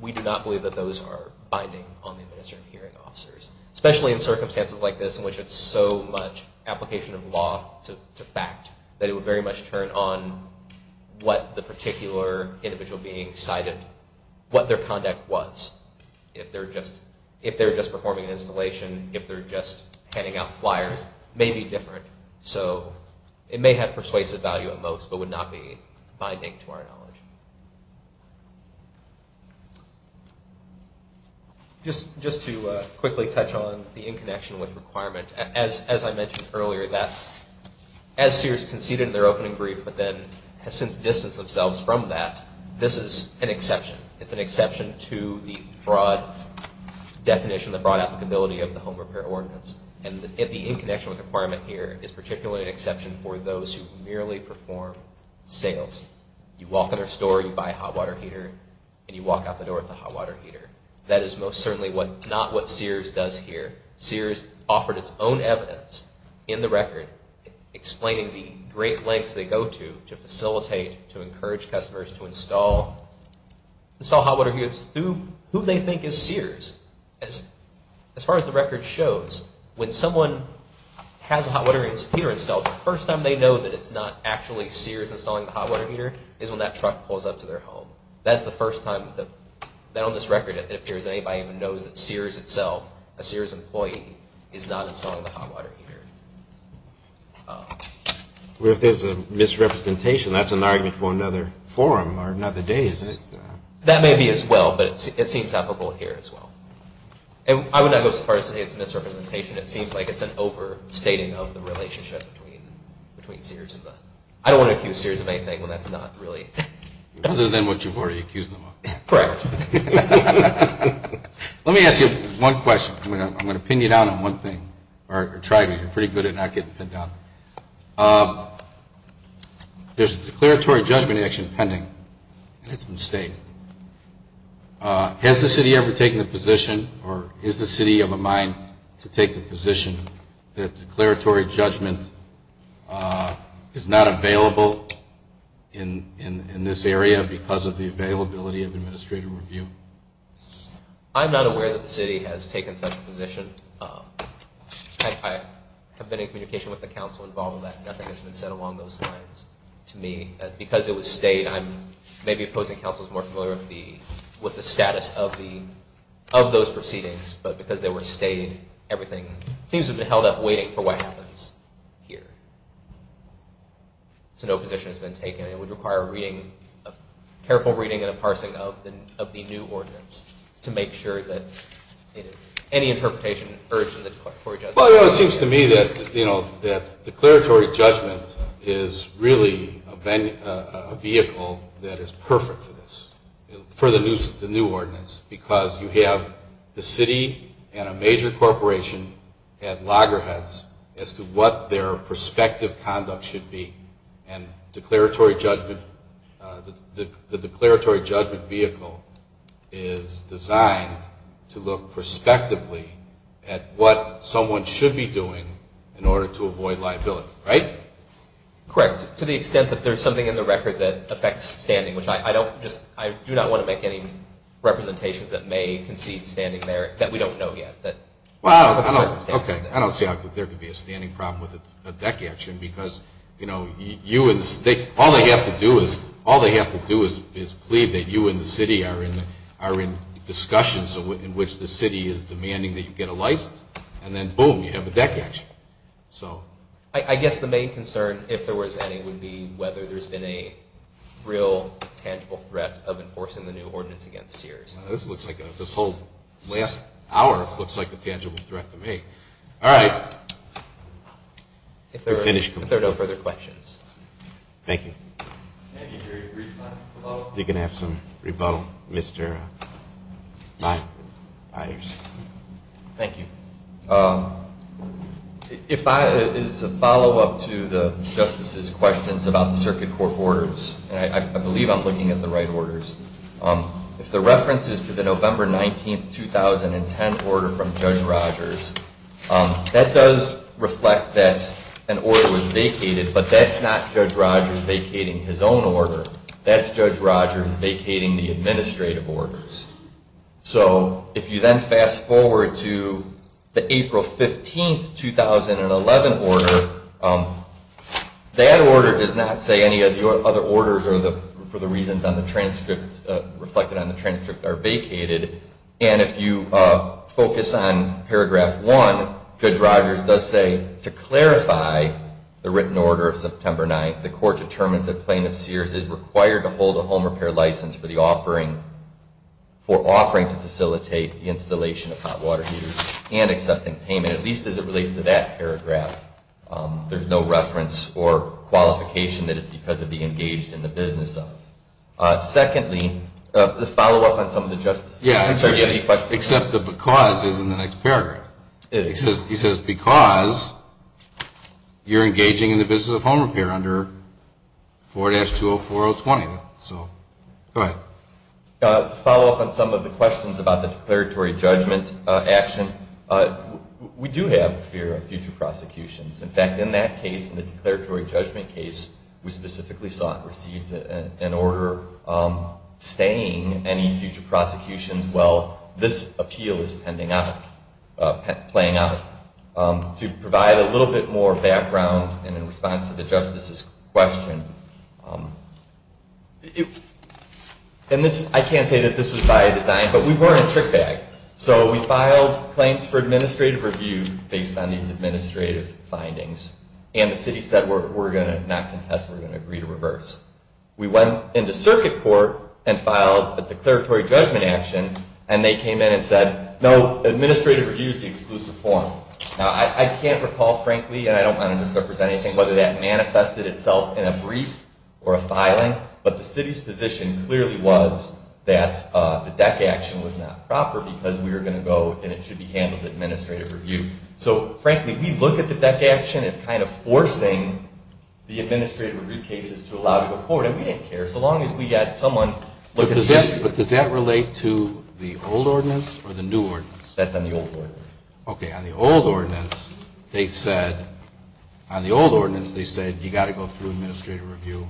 We do not believe that those are binding on the administrative hearing officers, especially in circumstances like this in which it's so much application of law to fact that it would very much turn on what the particular individual being cited, what their conduct was. If they're just performing an installation, if they're just handing out flyers, it may be different. It may have persuasive value at most but would not be binding to our knowledge. Just to quickly touch on the in connection with requirement, as I mentioned earlier that as Sears conceded in their opening brief but then has since distanced themselves from that, this is an exception. It's an exception to the broad definition, the broad applicability of the home repair ordinance. The in connection with requirement here is particularly an exception for those who merely perform sales. You walk in their store, you buy a hot water heater, and you walk out the door with a hot water heater. That is most certainly not what Sears does here. Sears offered its own evidence in the record explaining the great lengths they go to to facilitate, to encourage customers to install hot water heaters. Who do they think is Sears? As far as the record shows, when someone has a hot water heater installed, the first time they know that it's not actually Sears installing the hot water heater is when that truck pulls up to their home. That's the first time that on this record it appears that anybody even knows that Sears itself, a Sears employee, is not installing the hot water heater. If there's a misrepresentation, that's an argument for another forum or another day, isn't it? That may be as well, but it seems applicable here as well. I would not go so far as to say it's a misrepresentation. It seems like it's an overstating of the relationship between Sears and the... I don't want to accuse Sears of anything when that's not really... Other than what you've already accused them of. Correct. Let me ask you one question. I'm going to pin you down on one thing, or try to. You're pretty good at not getting pinned down. There's a declaratory judgment action pending, and it's been stated. Has the city ever taken the position, or is the city of a mind to take the position that declaratory judgment is not available in this area because of the availability of administrative review? I'm not aware that the city has taken such a position. I have been in communication with the council involved in that, and nothing has been said along those lines to me. Because it was stayed, I may be opposing councils more familiar with the status of those proceedings, but because they were stayed, everything seems to have been held up waiting for what happens here. So no position has been taken. It would require a careful reading and a parsing of the new ordinance to make sure that any interpretation urged in the declaratory judgment. It seems to me that declaratory judgment is really a vehicle that is perfect for this, for the new ordinance, because you have the city and a major corporation at loggerheads as to what their prospective conduct should be. And the declaratory judgment vehicle is designed to look prospectively at what someone should be doing in order to avoid liability, right? Correct, to the extent that there's something in the record that affects standing, which I do not want to make any representations that may concede standing there that we don't know yet. Well, I don't see how there could be a standing problem with a deck action, because all they have to do is plead that you and the city are in discussions in which the city is demanding that you get a license, and then boom, you have a deck action. I guess the main concern, if there was any, would be whether there's been a real tangible threat of enforcing the new ordinance against Sears. This whole last hour looks like a tangible threat to me. All right. We're finished. If there are no further questions. Thank you. Can I get a very brief final rebuttal? You can have some rebuttal, Mr. Byers. Thank you. If I, as a follow-up to the Justice's questions about the Circuit Court orders, and I believe I'm looking at the right orders, if the reference is to the November 19, 2010, order from Judge Rogers, that does reflect that an order was vacated, but that's not Judge Rogers vacating his own order. That's Judge Rogers vacating the administrative orders. So if you then fast-forward to the April 15, 2011 order, that order does not say any of the other orders for the reasons reflected on the transcript are vacated. And if you focus on paragraph one, Judge Rogers does say, to clarify the written order of September 9, the court determines that Plaintiff Sears is required to hold a home repair license for offering to facilitate the installation of hot water heaters and accepting payment, at least as it relates to that paragraph. There's no reference or qualification that it's because of the engaged in the business of. Secondly, the follow-up on some of the Justice's questions. Yeah, except the because is in the next paragraph. It is. He says, because you're engaging in the business of home repair under 4-204020. So, go ahead. To follow up on some of the questions about the declaratory judgment action, we do have a fear of future prosecutions. In fact, in that case, in the declaratory judgment case, we specifically sought and received an order staying any future prosecutions while this appeal is pending out, playing out. To provide a little bit more background and in response to the Justice's question, I can't say that this was by design, but we weren't a trick bag. So, we filed claims for administrative review based on these administrative findings and the city said, we're going to not contest, we're going to agree to reverse. We went into circuit court and filed a declaratory judgment action and they came in and said, no, administrative review is the exclusive form. Now, I can't recall frankly, and I don't want to misrepresent anything, whether that manifested itself in a brief or a filing, but the city's position clearly was that the DEC action was not proper because we were going to go and it should be handled administrative review. So, frankly, we look at the DEC action as kind of forcing the administrative review cases to allow it to go forward and we didn't care so long as we had someone look at it. But does that relate to the old ordinance or the new ordinance? That's on the old ordinance. Okay. On the old ordinance, they said, you've got to go through administrative review.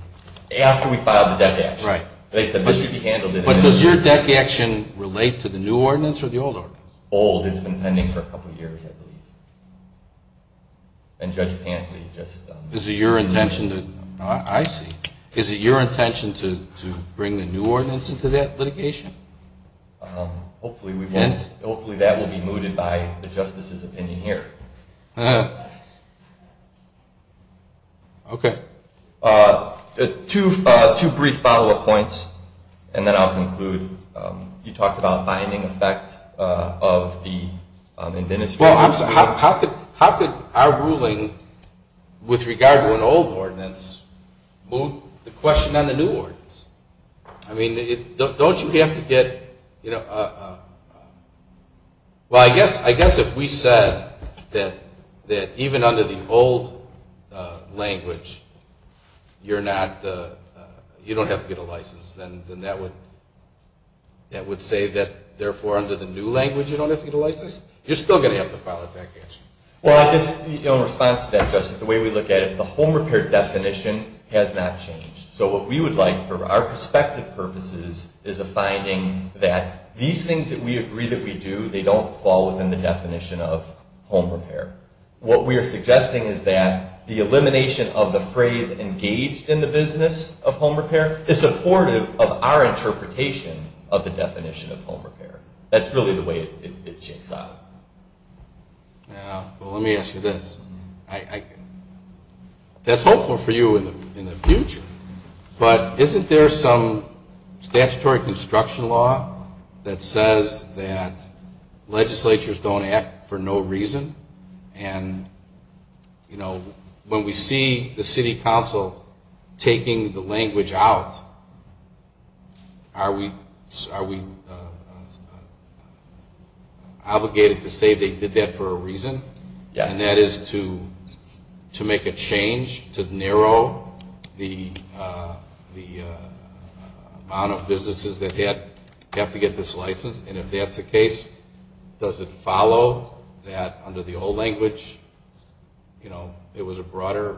After we filed the DEC action. Right. They said, this should be handled administrative review. But does your DEC action relate to the new ordinance or the old ordinance? Old. It's been pending for a couple of years, I believe. And Judge Pantley just... Is it your intention to... I see. Is it your intention to bring the new ordinance into that litigation? Hopefully, we won't... And? Hopefully, that will be mooted by the Justice's opinion here. Okay. Two brief follow-up points and then I'll conclude. You talked about binding effect of the administrative review. How could our ruling, with regard to an old ordinance, move the question on the new ordinance? I mean, don't you have to get... Well, I guess if we said that even under the old language, you don't have to get a license, then that would say that, therefore, under the new language, you don't have to get a license? You're still going to have to file a DEC action. Well, I guess in response to that, Justice, the way we look at it, the home repair definition has not changed. So what we would like, for our perspective purposes, is a finding that these things that we agree that we do, they don't fall within the definition of home repair. What we are suggesting is that the elimination of the phrase engaged in the business of home repair is supportive of our interpretation of the definition of home repair. That's really the way it shakes out. Well, let me ask you this. That's hopeful for you in the future, but isn't there some statutory construction law that says that legislatures don't act for no reason? And, you know, when we see the city council taking the language out, are we obligated to say they did that for a reason? Yes. And that is to make a change to narrow the amount of businesses that have to get this license? And if that's the case, does it follow that under the old language, you know, it was a broader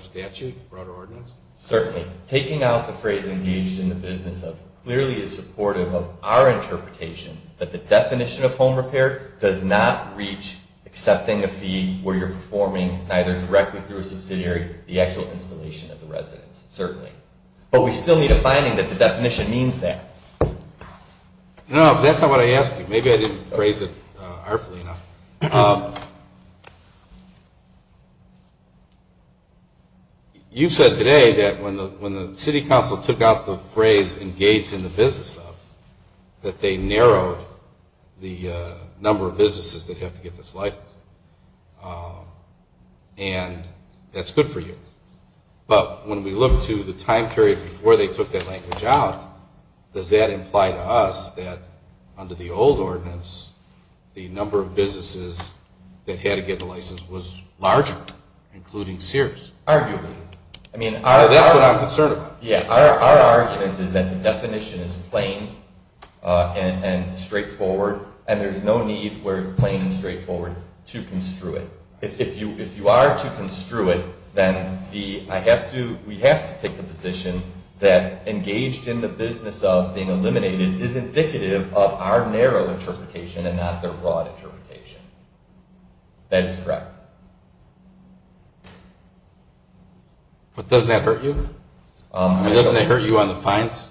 statute, broader ordinance? Certainly. Taking out the phrase engaged in the business of clearly is supportive of our interpretation that the definition of home repair does not reach accepting a fee where you're performing either directly through a subsidiary, the actual installation of the residence, certainly. But we still need a finding that the definition means that. No, that's not what I asked you. Maybe I didn't phrase it artfully enough. You said today that when the city council took out the phrase engaged in the business of that they narrowed the number of businesses that have to get this license. And that's good for you. But when we look to the time period before they took that language out, does that imply to us that under the old ordinance the number of businesses that had to get the license was larger, including Sears? Arguably. That's what I'm concerned about. Yeah. Our argument is that the definition is plain and straightforward, and there's no need where it's plain and straightforward to construe it. If you are to construe it, then we have to take the position that engaged in the business of being eliminated is indicative of our narrow interpretation and not the broad interpretation. That is correct. But doesn't that hurt you? Doesn't that hurt you on the fines?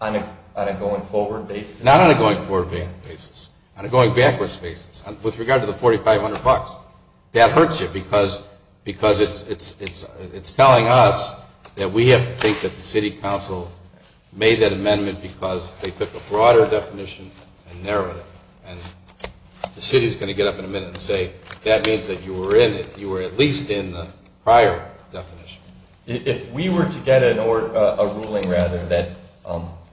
On a going forward basis? Not on a going forward basis. On a going backwards basis. With regard to the $4,500, that hurts you because it's telling us that we have to think that the city council made that amendment because they took a broader definition and narrowed it. The city is going to get up in a minute and say, that means that you were at least in the prior definition. If we were to get a ruling that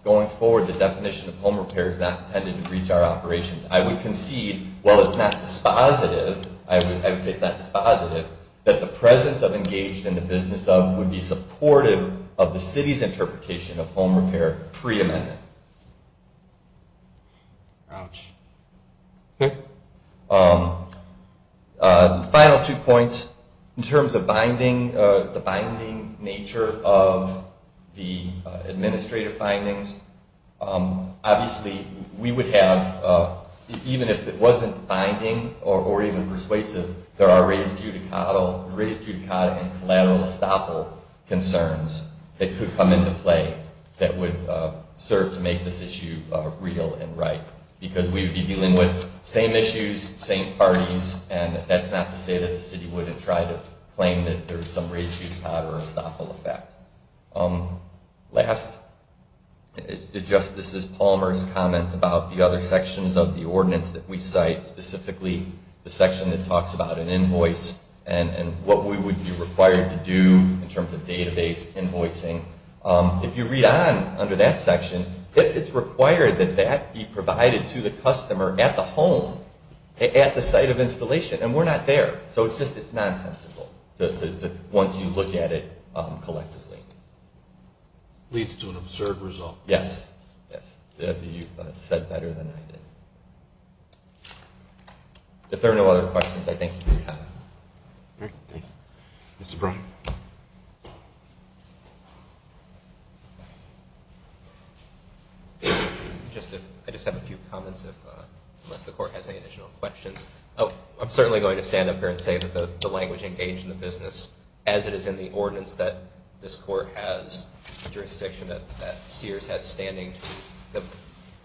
going forward the definition of home repair is not intended to breach our operations, I would concede, while it's not dispositive, I would say it's not dispositive, that the presence of engaged in the business of would be supportive of the city's interpretation of home repair pre-amendment. Ouch. The final two points, in terms of binding, the binding nature of the administrative findings, obviously we would have, even if it wasn't binding or even persuasive, there are raised judicata and collateral estoppel concerns that could come into play that would serve to make this issue real and right because we would be dealing with same issues, same parties, and that's not to say that the city wouldn't try to claim that there's some raised judicata or estoppel effect. Last, Justice Palmer's comment about the other sections of the ordinance that we cite, specifically the section that talks about an invoice and what we would be invoicing, if you read on under that section, it's required that that be provided to the customer at the home, at the site of installation, and we're not there. So it's just nonsensical once you look at it collectively. Leads to an absurd result. Yes. You said better than I did. If there are no other questions, I thank you for your time. Thank you. Mr. Brown. I just have a few comments unless the Court has any additional questions. I'm certainly going to stand up here and say that the language engaged in the business, as it is in the ordinance, that this Court has jurisdiction that Sears has standing, the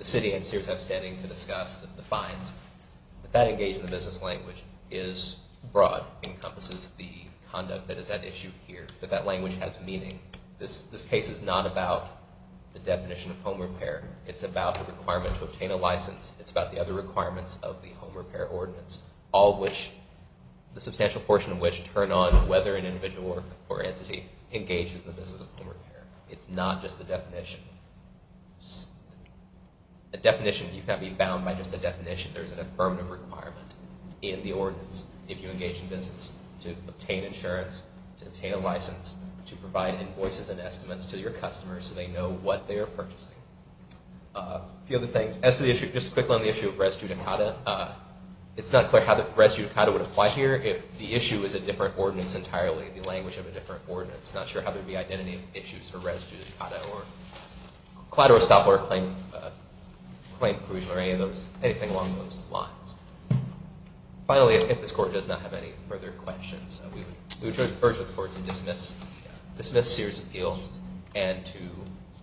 city and Sears have standing to discuss the fines, that that engage in the business language is broad, encompasses the conduct that is at issue here, that that language has meaning. This case is not about the definition of home repair. It's about the requirement to obtain a license. It's about the other requirements of the home repair ordinance, all which the substantial portion of which turn on whether an individual or entity engages in the business of home repair. It's not just the definition. The definition, you can't be bound by just a definition. There's an affirmative requirement in the ordinance if you engage in business to obtain insurance, to obtain a license, to provide invoices and estimates to your customers so they know what they are purchasing. A few other things. As to the issue, just quickly on the issue of res judicata, it's not clear how the res judicata would apply here if the issue is a different ordinance entirely, the language of a different ordinance. It's not sure how there would be identity issues for res judicata or collateral stop or claim inclusion or anything along those lines. Finally, if this Court does not have any further questions, we would urge the Court to dismiss Sears' appeal and to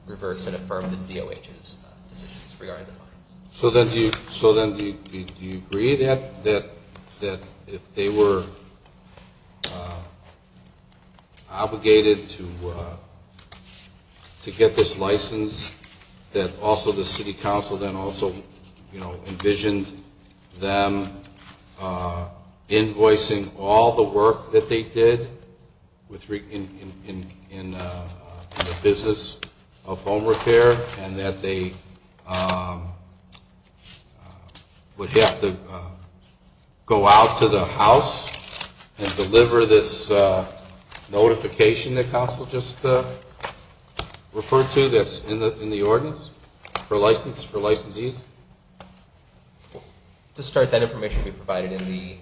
reverse and affirm the DOH's decisions regarding the lines. So then do you agree that if they were obligated to get this license that also the City Council then also envisioned them invoicing all the work that would have to go out to the House and deliver this notification that Council just referred to that's in the ordinance for licensees? To start, that information would be provided in the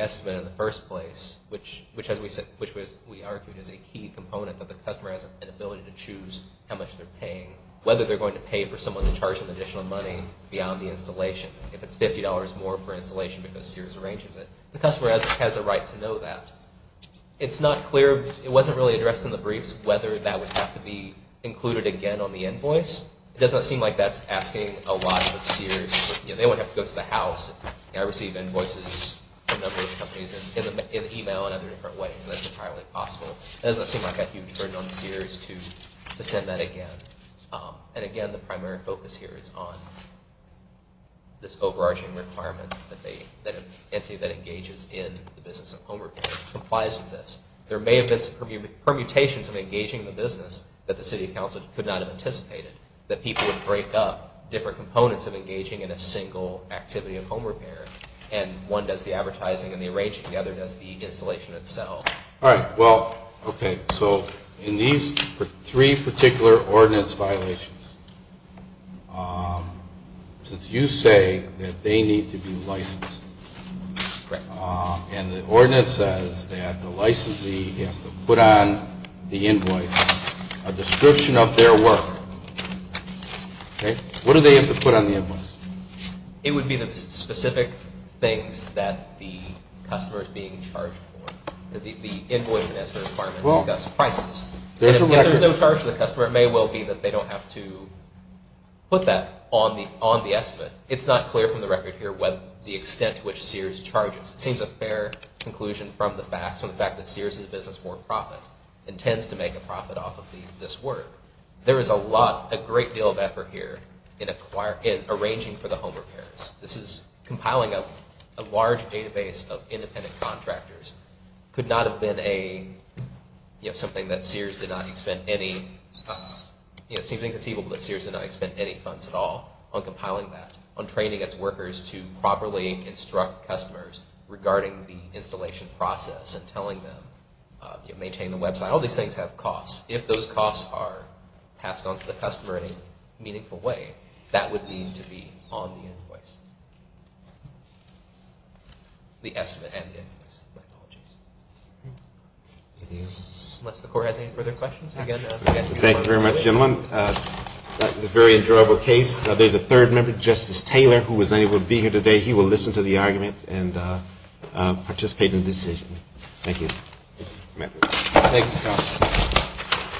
estimate in the first place, which as we said, which we argued is a key component that the customer has an ability to choose how much they're paying, whether they're going to pay for someone to charge them additional money beyond the installation. If it's $50 more for installation because Sears arranges it, the customer has a right to know that. It's not clear, it wasn't really addressed in the briefs, whether that would have to be included again on the invoice. It doesn't seem like that's asking a lot of Sears. They wouldn't have to go to the House. I receive invoices from a number of companies in email and other different ways and that's entirely possible. It doesn't seem like a huge burden on Sears to send that again. And again, the primary focus here is on this overarching requirement that an entity that engages in the business of home repair complies with this. There may have been permutations of engaging in the business that the City of Council could not have anticipated, that people would break up different components of engaging in a single activity of home repair. And one does the advertising and the arranging, the other does the installation itself. All right. Well, okay. So in these three particular ordinance violations, since you say that they need to be licensed, and the ordinance says that the licensee has to put on the invoice a description of their work, okay, what do they have to put on the invoice? It would be the specific things that the customer is being charged for. The invoice has the requirement to discuss prices. If there's no charge to the customer, it may well be that they don't have to put that on the estimate. It's not clear from the record here the extent to which Sears charges. It seems a fair conclusion from the facts, from the fact that Sears is a business for profit and tends to make a profit off of this work. There is a lot, a great deal of effort here in arranging for the home repairs. This is compiling a large database of independent contractors. Could not have been a, you know, something that Sears did not expend any, you know, it seems inconceivable that Sears did not expend any funds at all on compiling that, on training its workers to properly instruct customers regarding the installation process and telling them, you know, maintain the website. All these things have costs. If those costs are passed on to the customer in a meaningful way, that would need to be on the invoice. The estimate and the invoice. My apologies. Unless the Court has any further questions, again, I'm going to ask you to close the hearing. Thank you very much, gentlemen. That was a very enjoyable case. There's a third member, Justice Taylor, who was unable to be here today. He will listen to the argument and participate in the decision. Thank you. Thank you.